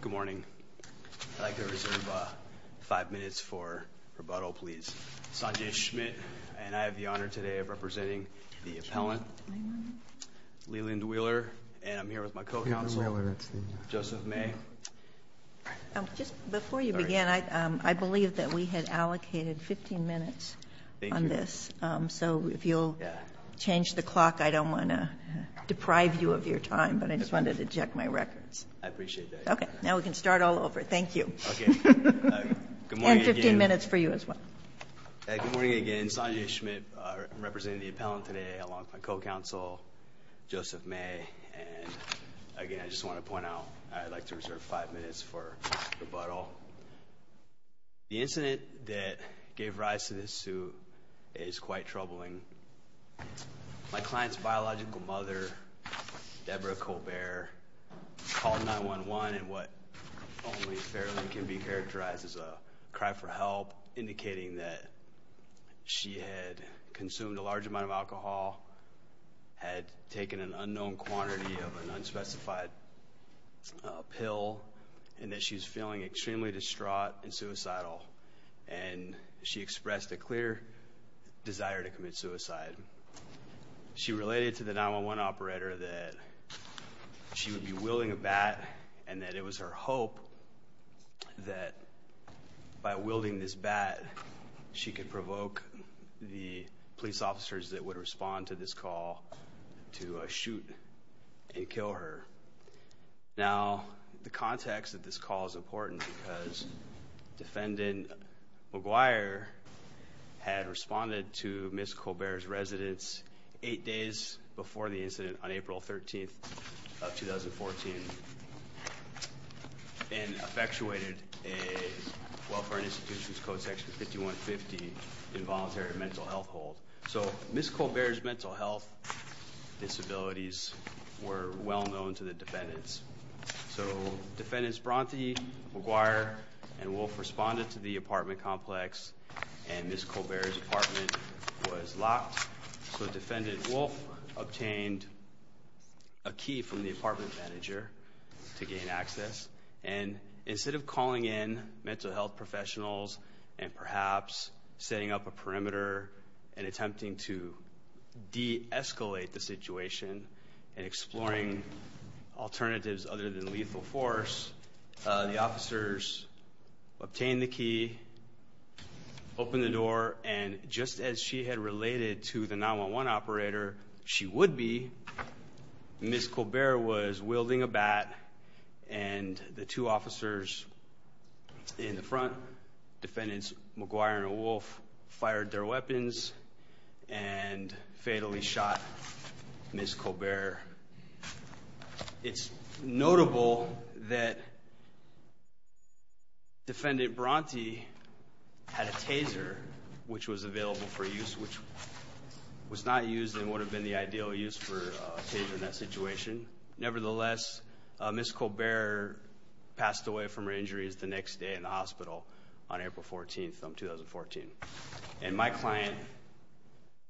Good morning. I'd like to reserve five minutes for rebuttal please. Sanjay Schmidt and I have the honor today of representing the appellant Leland Wheeler and I'm here with my co-counsel Joseph May. Just before you begin I believe that we had allocated 15 minutes on this so if you'll change the clock I don't want to deprive you of your time but I just wanted to check my records. I Now we can start all over. Thank you and 15 minutes for you as well. Good morning again. Sanjay Schmidt representing the appellant today along with my co-counsel Joseph May and again I just want to point out I'd like to reserve five minutes for rebuttal. The incident that gave rise to this suit is quite troubling. My client's biological mother Deborah Colbert called 911 and what only fairly can be characterized as a cry for help indicating that she had consumed a large amount of alcohol, had taken an unknown quantity of an unspecified pill and that she's feeling extremely distraught and suicidal and she expressed a clear desire to commit suicide. She related to the 911 operator that she would be wielding a bat and that it was her hope that by wielding this bat she could provoke the police officers that would respond to this call to shoot and kill her. Now the context of this call is important because defendant McGuire had responded to Ms. Colbert's residence eight days before the incident on April 13th of 2014 and effectuated a Welfare and Institutions Code section 5150 involuntary mental health hold. So Ms. Colbert's mental health disabilities were well known to the defendants. So defendants Bronte, McGuire and Wolfe responded to the apartment complex and Ms. Colbert's apartment was obtained a key from the apartment manager to gain access and instead of calling in mental health professionals and perhaps setting up a perimeter and attempting to de-escalate the situation and exploring alternatives other than lethal force, the officers obtained the key, opened the door and just as she had been a 911 operator, she would be. Ms. Colbert was wielding a bat and the two officers in the front, defendants McGuire and Wolfe, fired their weapons and fatally shot Ms. Colbert. It's notable that defendant Bronte had a taser which was available for use which was not used and would have been the ideal use for a taser in that situation. Nevertheless, Ms. Colbert passed away from her injuries the next day in the hospital on April 14th of 2014 and my client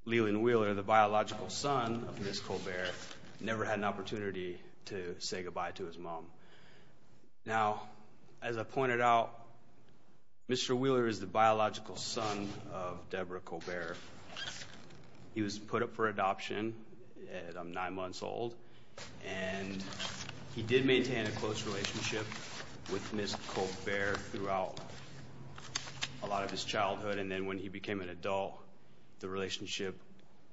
Leland Wheeler, the biological son of Ms. Colbert, never had an opportunity to say goodbye to his mom. Now as I he was put up for adoption at nine months old and he did maintain a close relationship with Ms. Colbert throughout a lot of his childhood and then when he became an adult the relationship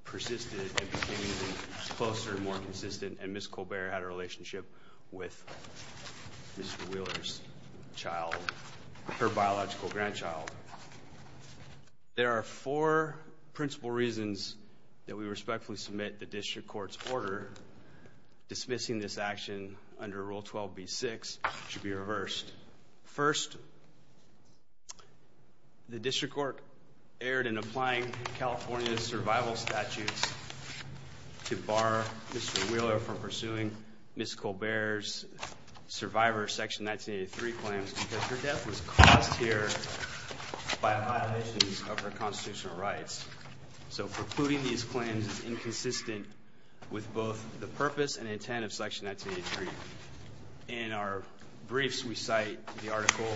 persisted and became closer and more consistent and Ms. Colbert had a relationship with Mr. Wheeler's child, her reasons that we respectfully submit the district court's order dismissing this action under Rule 12b-6 should be reversed. First, the district court erred in applying California's survival statutes to bar Mr. Wheeler from pursuing Ms. Colbert's survivor section 1983 claims because her death was caused here by a violation of her constitutional rights. So precluding these claims is inconsistent with both the purpose and intent of section 1983. In our briefs we cite the article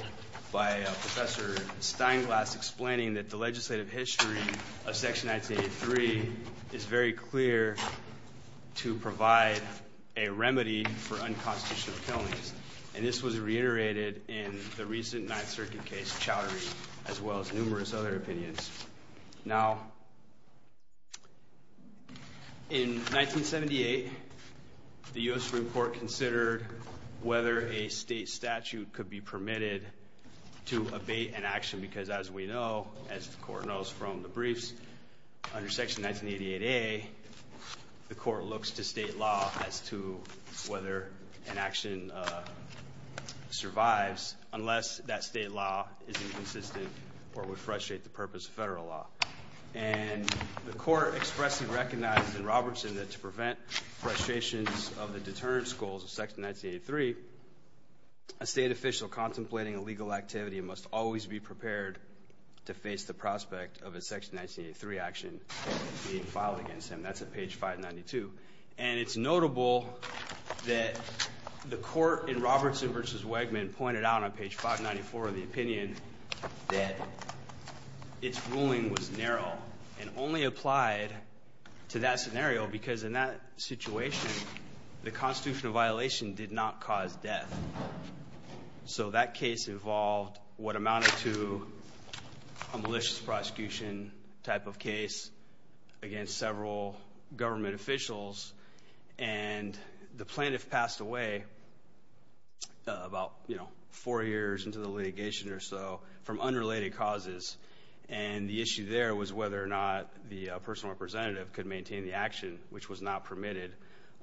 by Professor Steinglass explaining that the legislative history of section 1983 is very clear to provide a remedy for unconstitutional killings and this was reiterated in the recent Ninth Circuit case Chowdhury as well as numerous other opinions. Now, in 1978 the U.S. Supreme Court considered whether a state statute could be permitted to abate an action because as we know, as the court knows from the briefs, under section 1988a the court looks to state law as to whether an action survives unless that state law is inconsistent or would frustrate the purpose of federal law. And the court expressly recognized in Robertson that to prevent frustrations of the deterrence goals of section 1983, a state official contemplating a legal activity must always be prepared to face the prospect of a section 1983 action being filed against him. That's at page 592. And it's notable that the court in Robertson versus Wegman pointed out on page 594 of the opinion that its ruling was narrow and only applied to that scenario because in that situation the constitutional violation did not cause death. So that case involved what amounted to a malicious prosecution type of case against several government officials and the plaintiff passed away about, you know, four years into the litigation or so from unrelated causes. And the issue there was whether or not the personal representative could maintain the action, which was not permitted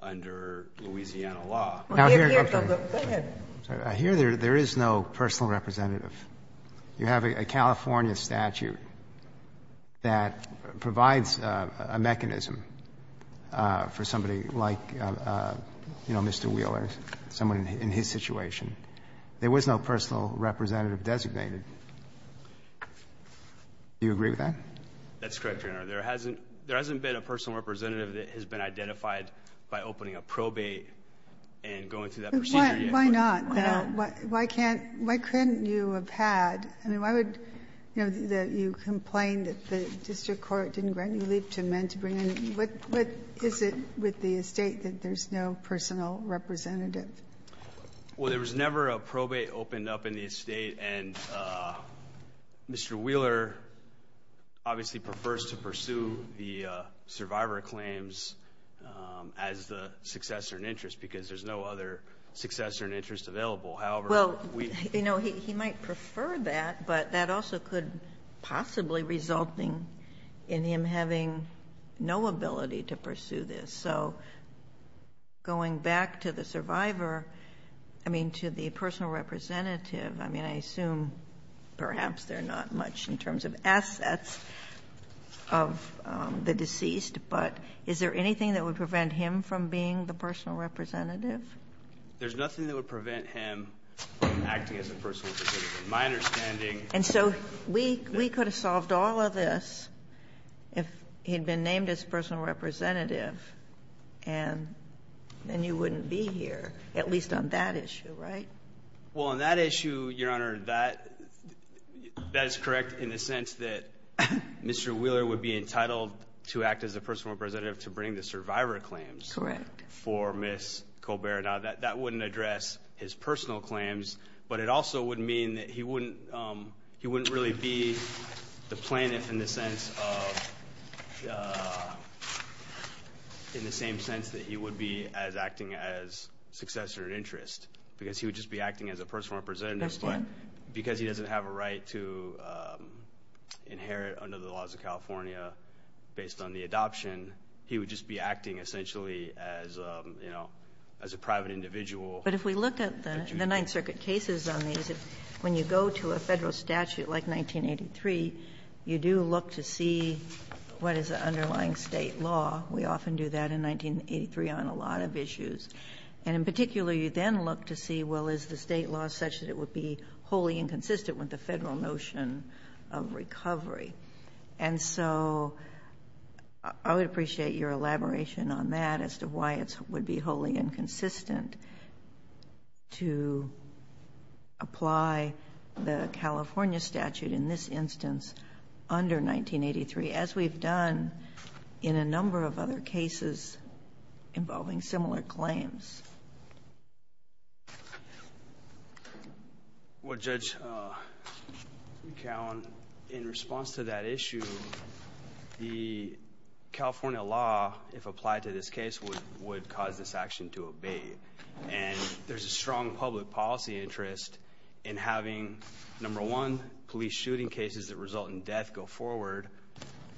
under Louisiana law. Roberts. Go ahead. I'm sorry. I hear there is no personal representative. You have a California statute that provides a mechanism for somebody like, you know, Mr. Wheeler, someone in his situation. There was no personal representative designated. Do you agree with that? That's correct, Your Honor. There hasn't been a personal representative that has been identified by opening a probate and going through that procedure yet. Why not? Why not? I mean, why would, you know, that you complain that the district court didn't grant any leave to men to bring in? What is it with the estate that there's no personal representative? Well, there was never a probate opened up in the estate. And Mr. Wheeler obviously prefers to pursue the survivor claims as the successor in interest because there's no other successor in interest available. However, we've been able to do that. But that also could possibly result in him having no ability to pursue this. So going back to the survivor, I mean, to the personal representative, I mean, I assume perhaps there are not much in terms of assets of the deceased, but is there anything that would prevent him from being the personal representative? There's nothing that would prevent him from acting as a personal representative. My understanding. And so we could have solved all of this if he'd been named as personal representative and then you wouldn't be here, at least on that issue, right? Well, on that issue, Your Honor, that is correct in the sense that Mr. Wheeler would be entitled to act as a personal representative to bring the survivor claims for Ms. Colbert. Now, that wouldn't address his personal claims, but it also would mean that he wouldn't really be the plaintiff in the sense of the same sense that he would be as acting as successor in interest because he would just be acting as a personal representative, but because he doesn't have a right to inherit under the laws of California based on the adoption, he would just be acting essentially as, you know, as a private individual. But if we look at the Ninth Circuit cases on these, when you go to a Federal statute like 1983, you do look to see what is the underlying State law. We often do that in 1983 on a lot of issues. And in particular, you then look to see, well, is the State law such that it would be wholly inconsistent with the Federal notion of recovery? And so I would appreciate your elaboration on that as to why it would be wholly inconsistent. And I think it's important to apply the California statute in this instance under 1983, as we've done in a number of other cases involving similar claims. Well, Judge McAllen, in response to that issue, the California law, if applied to this case, would cause this action to obey. And there's a strong public policy interest in having, number one, police shooting cases that result in death go forward.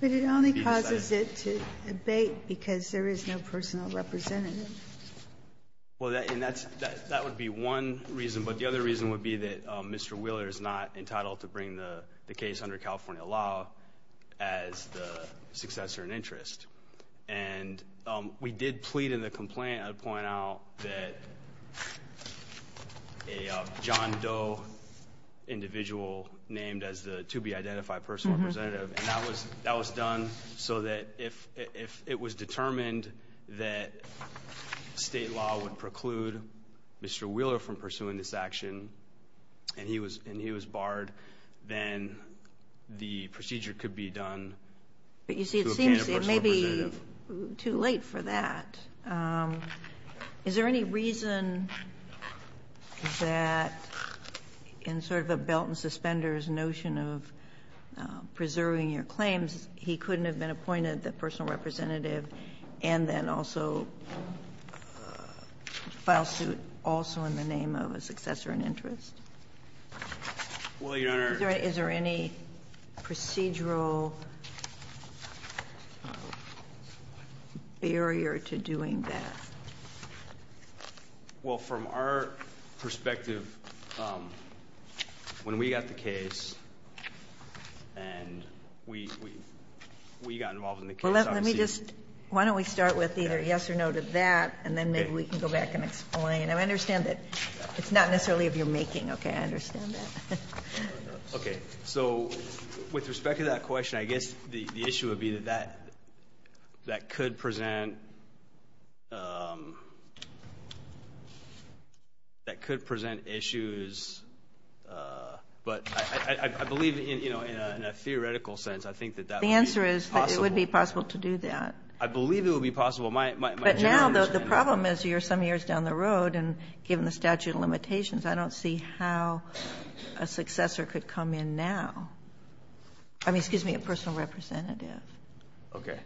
But it only causes it to abate because there is no personal representative. Well, that would be one reason. But the other reason would be that Mr. Wheeler is not entitled to bring the case under California law as the successor in interest. And we did plead in the complaint I would point out that a John Doe individual named as the to-be-identified personal representative, and that was done so that if it was determined that State law would preclude Mr. Wheeler from pursuing this action and he was barred, then the procedure could be done to obtain a personal representative. It would be too late for that. Is there any reason that in sort of a belt and suspenders notion of preserving your claims, he couldn't have been appointed the personal representative and then also file suit also in the name of a successor in interest? Well, Your Honor. Is there any procedural barrier to doing that? Well, from our perspective, when we got the case and we got involved in the case obviously you can't. Well, let me just why don't we start with either yes or no to that and then maybe we can go back and explain. I understand that it's not necessarily of your making, okay? I understand that. Okay. So with respect to that question, I guess the issue would be that that could present issues, but I believe, you know, in a theoretical sense, I think that that would be possible. The answer is that it would be possible to do that. I believe it would be possible. My general understanding is that it would be possible. But now the problem is you're some years down the road, and given the statute of limitations, I don't see how a successor could come in now. I mean, excuse me, a personal representative. Okay.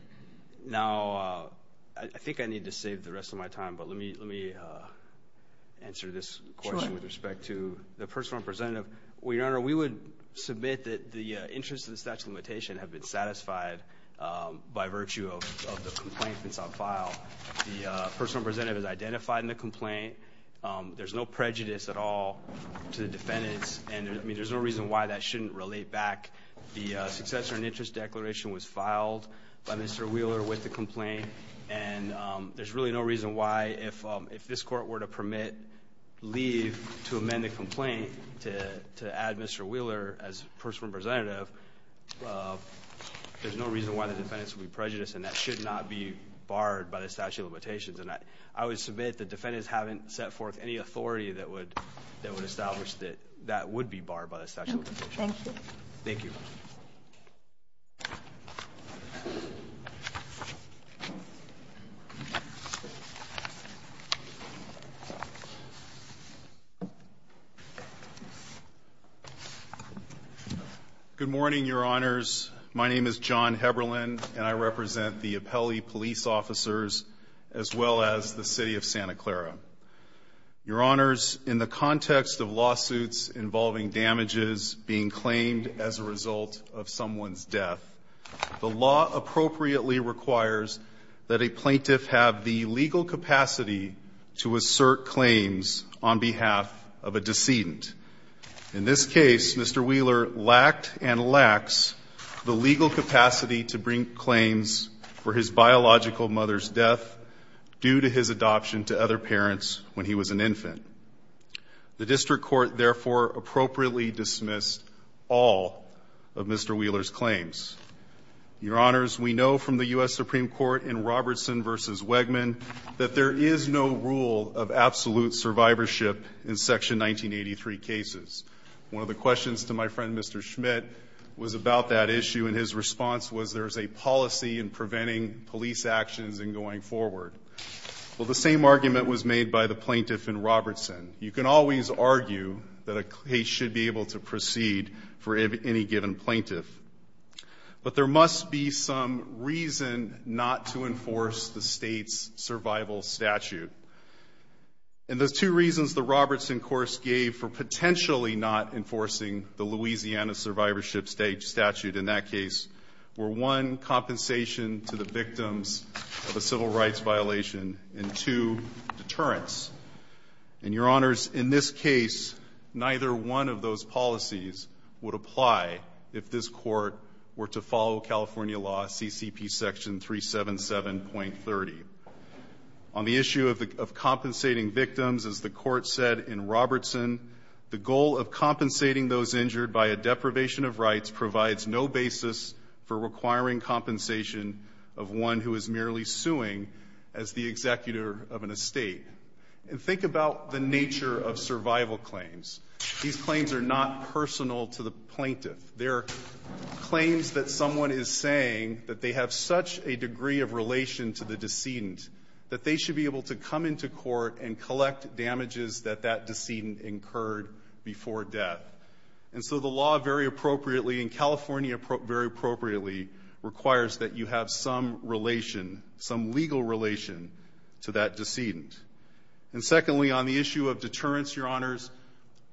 Now, I think I need to save the rest of my time, but let me answer this question with respect to the personal representative. Well, Your Honor, we would submit that the interests of the statute of limitation have been satisfied by virtue of the complaint that's on file. The personal representative is identified in the complaint. There's no prejudice at all to the defendants, and I mean, there's no reason why that shouldn't relate back. The successor and interest declaration was filed by Mr. Wheeler with the complaint, and there's really no reason why, if this court were to permit, leave to amend the complaint to add Mr. Wheeler as personal representative, there's no reason why the defendants would be prejudiced, and that should not be barred by the statute of limitations. And I would submit the defendants haven't set forth any authority that would establish that that would be barred by the statute of limitations. Okay. Thank you. Thank you. Good morning, Your Honors. My name is John Heberlin, and I represent the Appellee Police Officers, as well as the City of Santa Clara. Your Honors, in the context of lawsuits involving damages being claimed as a result of someone's death, the law appropriately requires that a plaintiff have the legal capacity to assert claims on behalf of a decedent. In this case, Mr. Wheeler lacked and lacks the legal capacity to bring claims for his biological mother's death due to his adoption to other parents when he was an infant. The district court, therefore, appropriately dismissed all of Mr. Wheeler's claims. Your Honors, we know from the U.S. Supreme Court in Robertson v. Wegman that there is no rule of absolute survivorship in Section 1983 cases. One of the questions to my friend, Mr. Schmidt, was about that issue, and his response was there's a policy in preventing police actions in going forward. Well, the same argument was made by the plaintiff in Robertson. You can always argue that a case should be able to proceed for any given plaintiff. But there must be some reason not to enforce the state's survival statute. And those two reasons the Robertson course gave for potentially not enforcing the Louisiana survivorship statute in that case were, one, compensation to the victims of a civil rights violation, and, two, deterrence. And, Your Honors, in this case, neither one of those policies would apply if this court were to follow California law, CCP Section 377.30. On the issue of compensating victims, as the court said in Robertson, the goal of compensating those injured by a deprivation of rights provides no basis for requiring compensation of one who is merely suing as the executor of an estate. And think about the nature of survival claims. These claims are not personal to the plaintiff. They're claims that someone is saying that they have such a degree of relation to the decedent that they should be able to come into court and be heard before death. And so the law very appropriately, and California very appropriately, requires that you have some relation, some legal relation to that decedent. And secondly, on the issue of deterrence, Your Honors,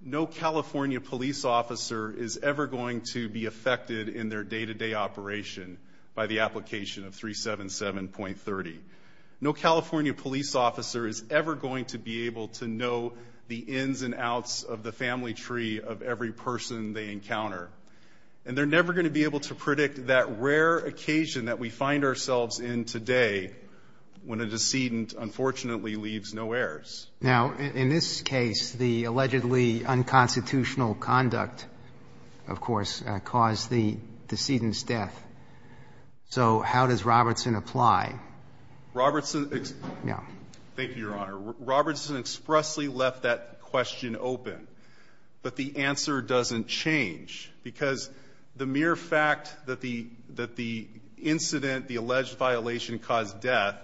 no California police officer is ever going to be affected in their day-to-day operation by the application of 377.30. No California police officer is ever going to be able to know the ins and outs of the family tree of every person they encounter. And they're never going to be able to predict that rare occasion that we find ourselves in today when a decedent unfortunately leaves no heirs. Now, in this case, the allegedly unconstitutional conduct, of course, caused the decedent's death. So how does Robertson apply? Yeah. Thank you, Your Honor. Robertson expressly left that question open, but the answer doesn't change. Because the mere fact that the incident, the alleged violation caused death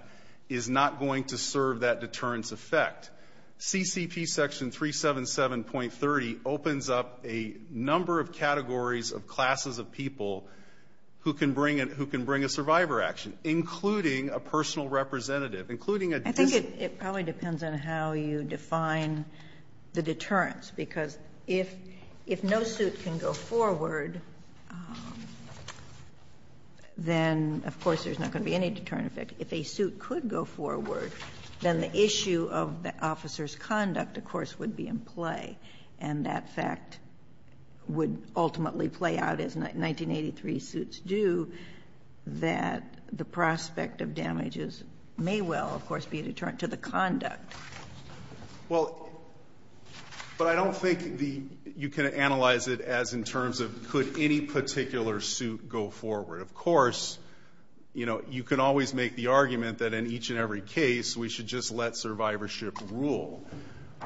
is not going to serve that deterrence effect. CCP section 377.30 opens up a number of categories of classes of people who can bring a survivor action, including a personal representative, including a decedent. It probably depends on how you define the deterrence, because if no suit can go forward, then, of course, there's not going to be any deterrent effect. If a suit could go forward, then the issue of the officer's conduct, of course, would be in play. And that fact would ultimately play out, as 1983 suits do, that the prospect of damages may well, of course, be a deterrent to the conduct. Well, but I don't think the you can analyze it as in terms of could any particular suit go forward. Of course, you know, you can always make the argument that in each and every case, we should just let survivorship rule.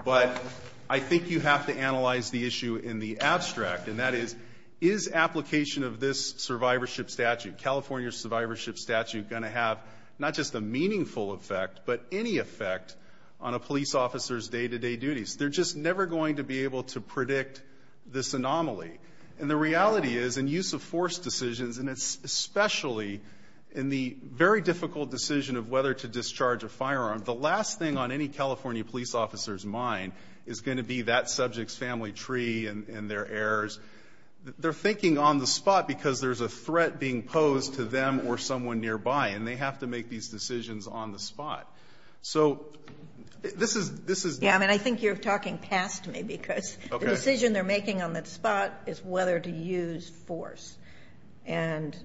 But I think you have to analyze the issue in the abstract, and that is, is application of this survivorship statute, California survivorship statute, going to have not just a meaningful effect, but any effect on a police officer's day-to-day duties. They're just never going to be able to predict this anomaly. And the reality is, in use-of-force decisions, and especially in the very difficult decision of whether to discharge a firearm, the last thing on any California police officer's mind is going to be that subject's family tree and their heirs. They're thinking on the spot because there's a threat being posed to them or someone nearby, and they have to make these decisions on the spot. So this is this is Yeah, I mean, I think you're talking past me, because the decision they're making on the spot is whether to use force. And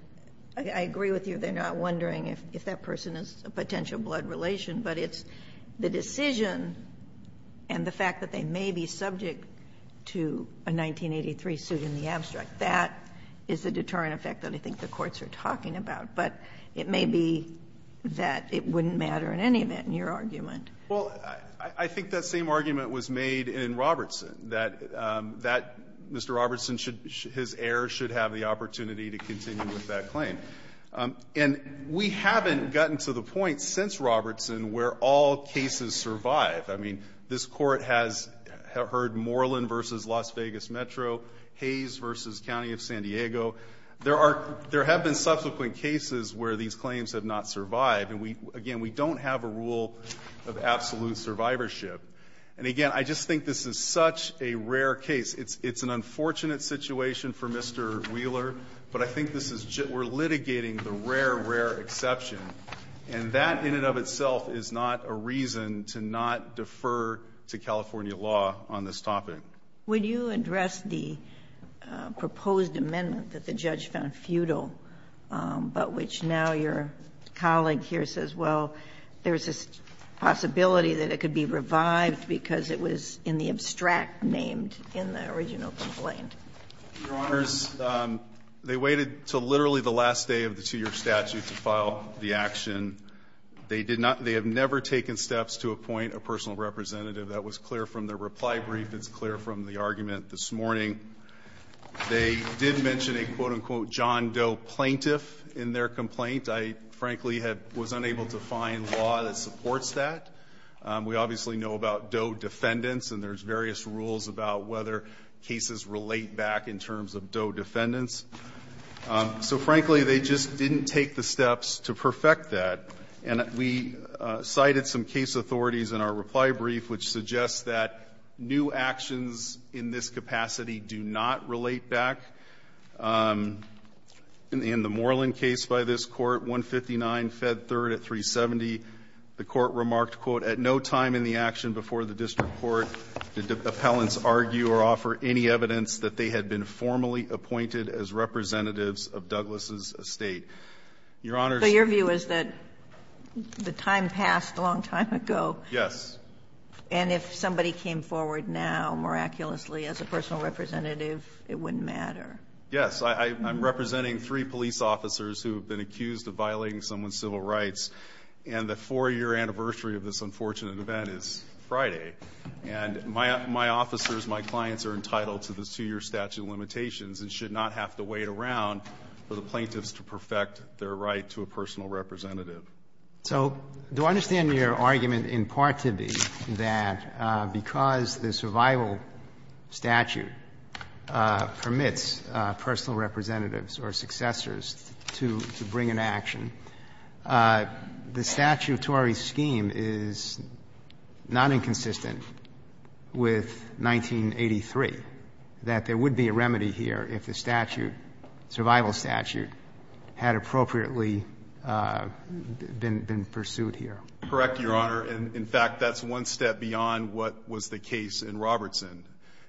I agree with you, they're not wondering if that person is a potential blood relation, but it's the decision and the fact that they may be subject to a 1983 suit in the abstract, that is the deterrent effect that I think the courts are talking about. But it may be that it wouldn't matter in any event in your argument. Well, I think that same argument was made in Robertson, that that Mr. Robertson should his heir should have the opportunity to continue with that claim. And we haven't gotten to the point since Robertson where all cases survive. I mean, this Court has heard Moreland v. Las Vegas Metro, Hayes v. County of San Diego. There are there have been subsequent cases where these claims have not survived. And we again, we don't have a rule of absolute survivorship. And again, I just think this is such a rare case. It's an unfortunate situation for Mr. Wheeler. But I think this is we're litigating the rare, rare exception. And that in and of itself is not a reason to not defer to California law on this topic. When you address the proposed amendment that the judge found futile, but which now your colleague here says, well, there's a possibility that it could be revived because it was in the abstract named in the original complaint. Your Honors, they waited till literally the last day of the two-year statute to file the action. They did not, they have never taken steps to appoint a personal representative. That was clear from their reply brief. It's clear from the argument this morning. They did mention a quote-unquote John Doe plaintiff in their complaint. I frankly had, was unable to find law that supports that. We obviously know about Doe defendants and there's various rules about whether cases relate back in terms of Doe defendants. So frankly, they just didn't take the steps to perfect that. And we cited some case authorities in our reply brief which suggests that new actions in this capacity do not relate back. In the Moreland case by this Court, 159 Fed 3rd at 370, the Court remarked, quote, at no time in the action before the district court did the appellants argue or offer any evidence that they had been formally appointed as representatives of Douglas' estate. Your Honors. So your view is that the time passed a long time ago. Yes. And if somebody came forward now miraculously as a personal representative, it wouldn't matter. Yes. I'm representing three police officers who have been accused of violating someone's civil rights, and the four-year anniversary of this unfortunate event is Friday. And my officers, my clients, are entitled to the two-year statute of limitations and should not have to wait around for the plaintiffs to perfect their right to a personal representative. So do I understand your argument in part to be that because the survival statute permits personal representatives or successors to bring an action, the statutory scheme is not inconsistent with 1983, that there would be a remedy here if the statute, survival statute, had appropriately been pursued here? Correct, Your Honor. In fact, that's one step beyond what was the case in Robertson.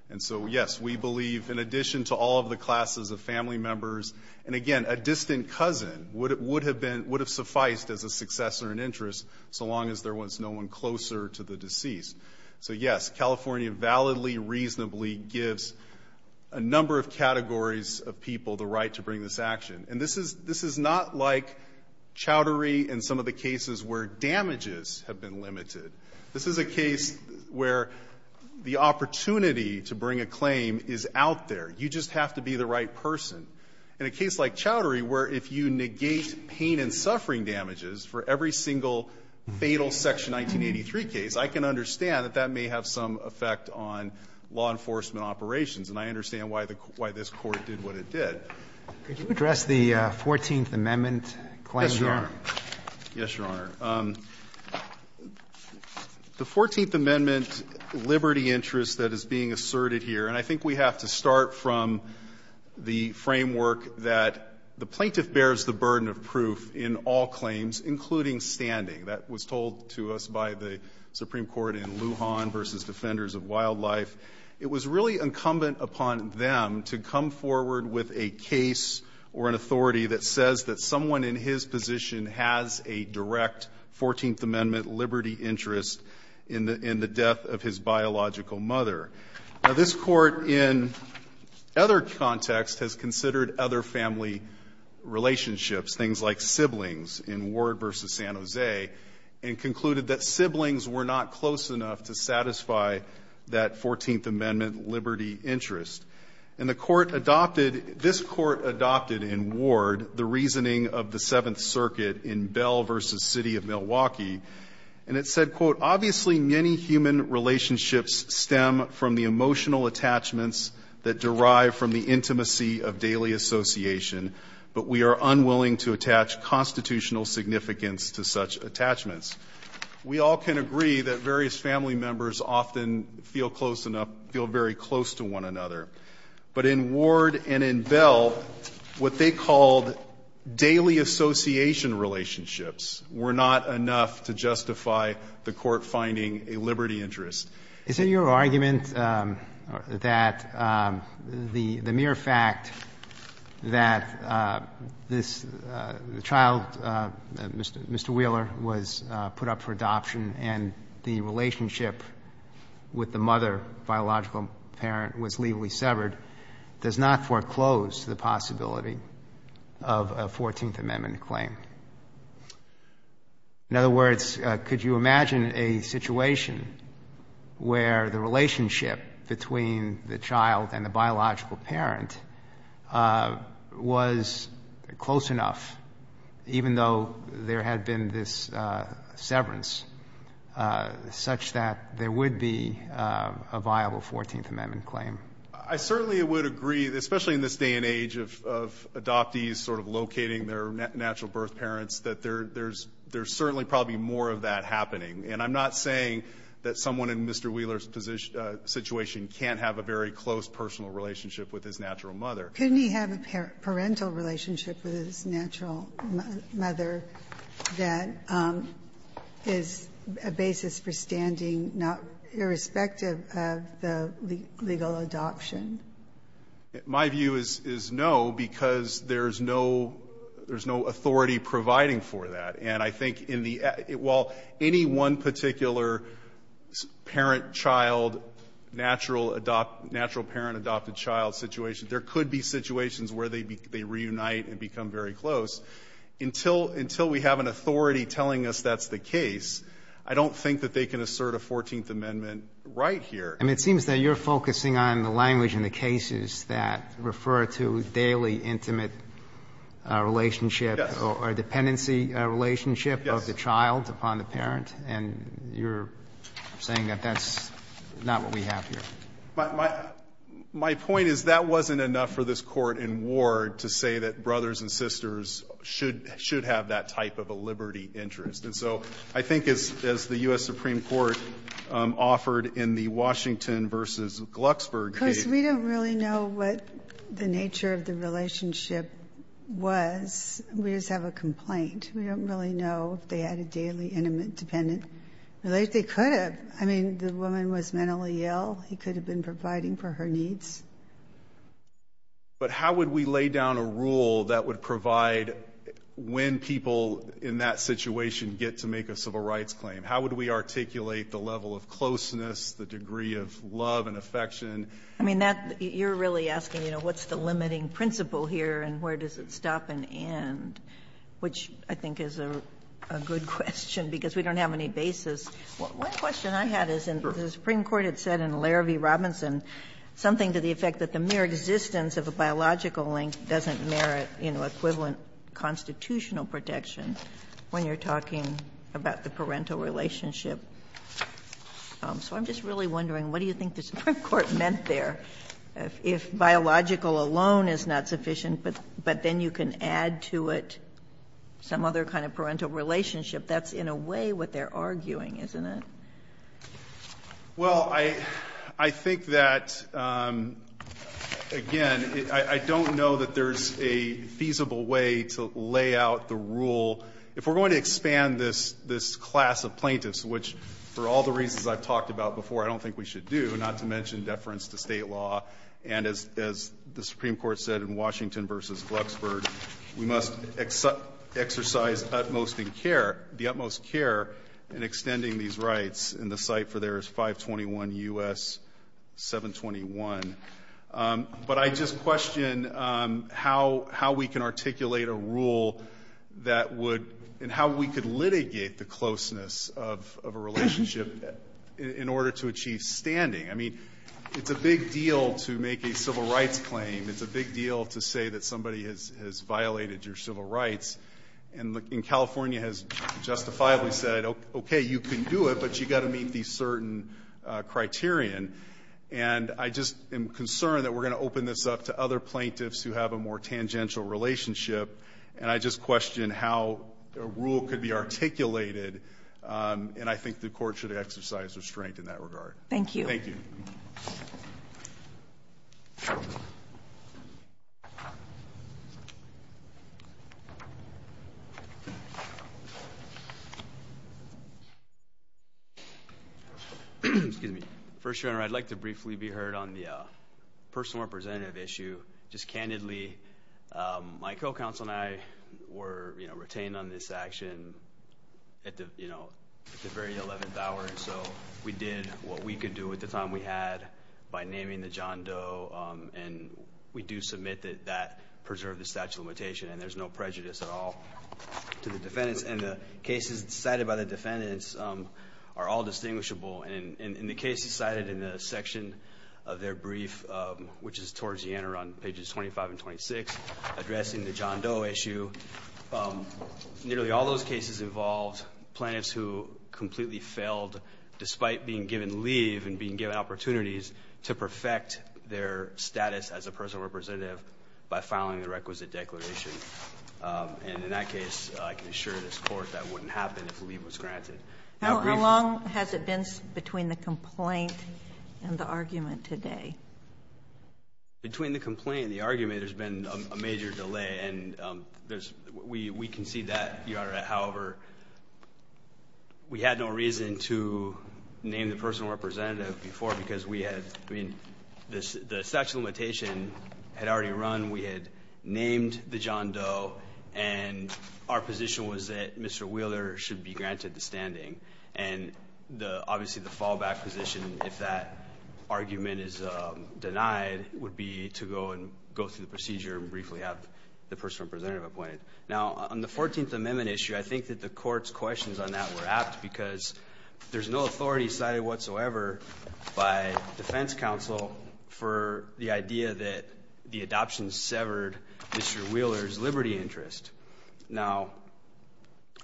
And so, yes, we believe in addition to all of the classes of family members, and again, a distant cousin would have been, would have sufficed as a successor in interest so long as there was no one closer to the deceased. So, yes, California validly, reasonably gives a number of categories of people the right to bring this action. And this is not like chowdery and some of the cases where damages have been limited. This is a case where the opportunity to bring a claim is out there. You just have to be the right person. In a case like chowdery, where if you negate pain and suffering damages for every single fatal Section 1983 case, I can understand that that may have some effect on law enforcement operations. And I understand why this Court did what it did. Could you address the Fourteenth Amendment claim here? Yes, Your Honor. The Fourteenth Amendment liberty interest that is being asserted here, and I think we have to start from the framework that the plaintiff bears the burden of proof in all claims, including standing. That was told to us by the Supreme Court in Lujan versus Defenders of Wildlife. It was really incumbent upon them to come forward with a case or an authority that says that someone in his position has a direct Fourteenth Amendment liberty interest in the death of his biological mother. Now, this Court in other contexts has considered other family relationships, things like siblings in Ward versus San Jose, and concluded that siblings were not close enough to satisfy that Fourteenth Amendment liberty interest. And the Court adopted, this Court adopted in Ward, the reasoning of the Seventh Circuit in Bell versus City of Milwaukee. And it said, quote, obviously many human relationships stem from the emotional attachments that derive from the intimacy of daily association. But we are unwilling to attach constitutional significance to such attachments. We all can agree that various family members often feel close enough, feel very close to one another. But in Ward and in Bell, what they called daily association relationships were not enough to justify the Court finding a liberty interest. Is it your argument that the mere fact that this child, Mr. Wheeler, was put up for adoption and the relationship with the mother, biological parent, was legally severed, does not foreclose the possibility of a Fourteenth Amendment claim? In other words, could you imagine a situation where the relationship between the child and the biological parent was close enough, even though there had been this severance, such that there would be a viable Fourteenth Amendment claim? I certainly would agree, especially in this day and age of adoptees sort of locating their natural birth parents, that there's certainly probably more of that happening. And I'm not saying that someone in Mr. Wheeler's situation can't have a very close personal relationship with his natural mother. Couldn't he have a parental relationship with his natural mother that is a basis for standing, not irrespective of the legal adoption? My view is no, because there's no authority providing for that. And I think in the end, while any one particular parent-child, natural parent-adopted child situation, there could be situations where they reunite and become very close. Until we have an authority telling us that's the case, I don't think that they can assert a Fourteenth Amendment right here. And it seems that you're focusing on the language in the cases that refer to daily intimate relationship or dependency relationship of the child upon the parent, and you're saying that that's not what we have here. My point is that wasn't enough for this Court in Ward to say that brothers and sisters should have that type of a liberty interest. And so I think as the U.S. Supreme Court offered in the Washington v. Glucksberg case we don't really know what the nature of the relationship was. We just have a complaint. We don't really know if they had a daily intimate dependent relationship. They could have. I mean, the woman was mentally ill. He could have been providing for her needs. But how would we lay down a rule that would provide when people in that situation get to make a civil rights claim? How would we articulate the level of closeness, the degree of love and affection? I mean, that you're really asking, you know, what's the limiting principle here and where does it stop and end, which I think is a good question, because we don't have any basis. One question I had is the Supreme Court had said in Larravie-Robinson something to the effect that the mere existence of a biological link doesn't merit, you know, equivalent constitutional protection when you're talking about the parental relationship. So I'm just really wondering what do you think the Supreme Court meant there? If biological alone is not sufficient, but then you can add to it some other kind of parental relationship, that's in a way what they're arguing, isn't it? Well, I think that, again, I don't know that there's a feasible way to lay out the rule. If we're going to expand this class of plaintiffs, which for all the reasons I've talked about before I don't think we should do, not to mention deference to State law, and as the Supreme Court said in Washington v. Glucksburg, we must exercise the utmost care in extending these rights. And the cite for there is 521 U.S. 721. But I just question how we can articulate a rule that would – and how we could litigate the closeness of a relationship in order to achieve standing. I mean, it's a big deal to make a civil rights claim. It's a big deal to say that somebody has violated your civil rights. And California has justifiably said, okay, you can do it, but you've got to meet the certain criterion. And I just am concerned that we're going to open this up to other plaintiffs who have a more tangential relationship, and I just question how a rule could be articulated. And I think the Court should exercise restraint in that regard. Thank you. Thank you. Thank you. Excuse me. First, Your Honor, I'd like to briefly be heard on the personal representative issue. Just candidly, my co-counsel and I were retained on this action at the very 11th hour, and so we did what we could do with the time we had by naming the John Doe. And we do submit that that preserved the statute of limitation, and there's no prejudice at all to the defendants. And the cases cited by the defendants are all distinguishable. In the cases cited in the section of their brief, which is towards the end, around pages 25 and 26, addressing the John Doe issue, nearly all those cases involved plaintiffs who completely failed, despite being given leave and being given opportunities to perfect their status as a personal representative by filing the requisite declaration. And in that case, I can assure this Court that wouldn't happen if leave was granted. How brief? How long has it been between the complaint and the argument today? Between the complaint and the argument, there's been a major delay, and there's We concede that, Your Honor. However, we had no reason to name the personal representative before, because we had, I mean, the statute of limitation had already run. We had named the John Doe, and our position was that Mr. Wheeler should be granted the standing. And obviously, the fallback position, if that argument is denied, would be to go and go through the procedure and briefly have the personal representative appointed. Now, on the 14th Amendment issue, I think that the Court's questions on that were apt, because there's no authority cited whatsoever by defense counsel for the idea that the adoption severed Mr. Wheeler's liberty interest. Now,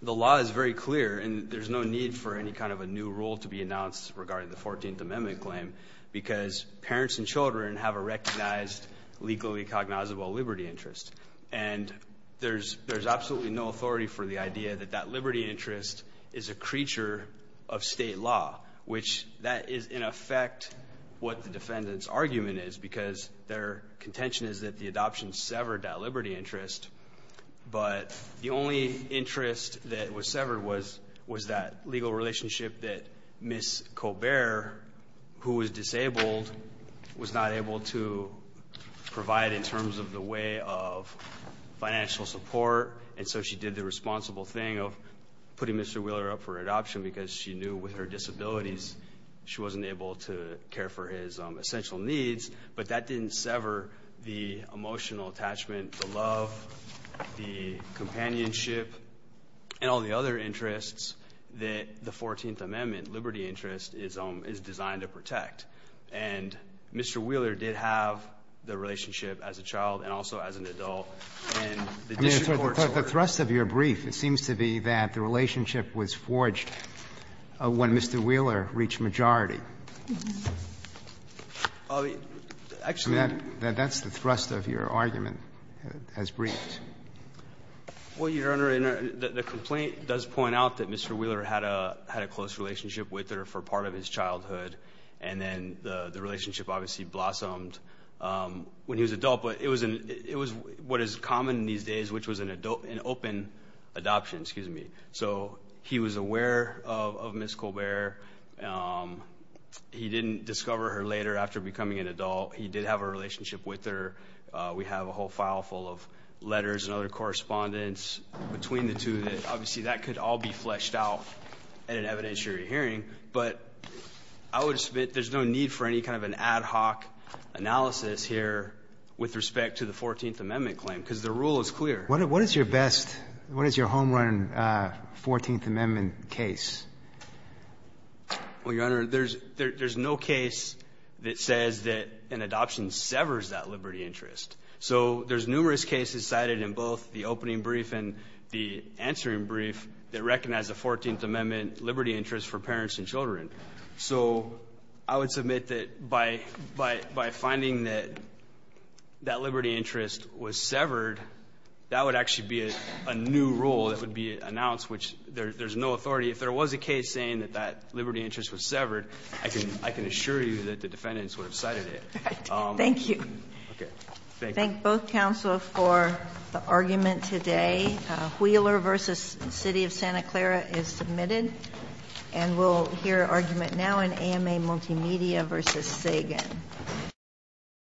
the law is very clear, and there's no need for any kind of a new rule to be announced regarding the 14th Amendment claim, because parents and children have a recognized legally cognizable liberty interest. And there's absolutely no authority for the idea that that liberty interest is a creature of state law, which that is, in effect, what the defendant's argument is, because their contention is that the adoption severed that liberty interest. But the only interest that was severed was that legal relationship that Ms. Colbert, who was disabled, was not able to provide in terms of the way of financial support. And so she did the responsible thing of putting Mr. Wheeler up for adoption, because she knew with her disabilities, she wasn't able to care for his essential needs. But that didn't sever the emotional attachment, the love, the companionship, and all the other And Mr. Wheeler did have the relationship as a child and also as an adult, and the district courts ordered her to be adopted. The thrust of your brief, it seems to be that the relationship was forged when Mr. Wheeler reached majority. I mean, that's the thrust of your argument as briefed. Well, Your Honor, the complaint does point out that Mr. Wheeler had a close relationship with her for part of his childhood. And then the relationship obviously blossomed when he was an adult. But it was what is common these days, which was an open adoption. Excuse me. So he was aware of Ms. Colbert. He didn't discover her later after becoming an adult. He did have a relationship with her. We have a whole file full of letters and other correspondence between the two. Obviously, that could all be fleshed out in an evidentiary hearing. But I would submit there's no need for any kind of an ad hoc analysis here with respect to the 14th Amendment claim, because the rule is clear. What is your best, what is your home run 14th Amendment case? Well, Your Honor, there's no case that says that an adoption severs that liberty interest. So there's numerous cases cited in both the opening brief and the answering brief that recognize the 14th Amendment liberty interest for parents and children. So I would submit that by finding that that liberty interest was severed, that would actually be a new rule that would be announced, which there's no authority. If there was a case saying that that liberty interest was severed, I can assure you that the defendants would have cited it. Thank you. Thank you. Thank both counsel for the argument today. Wheeler v. City of Santa Clara is submitted. And we'll hear argument now in AMA Multimedia v. Sagan.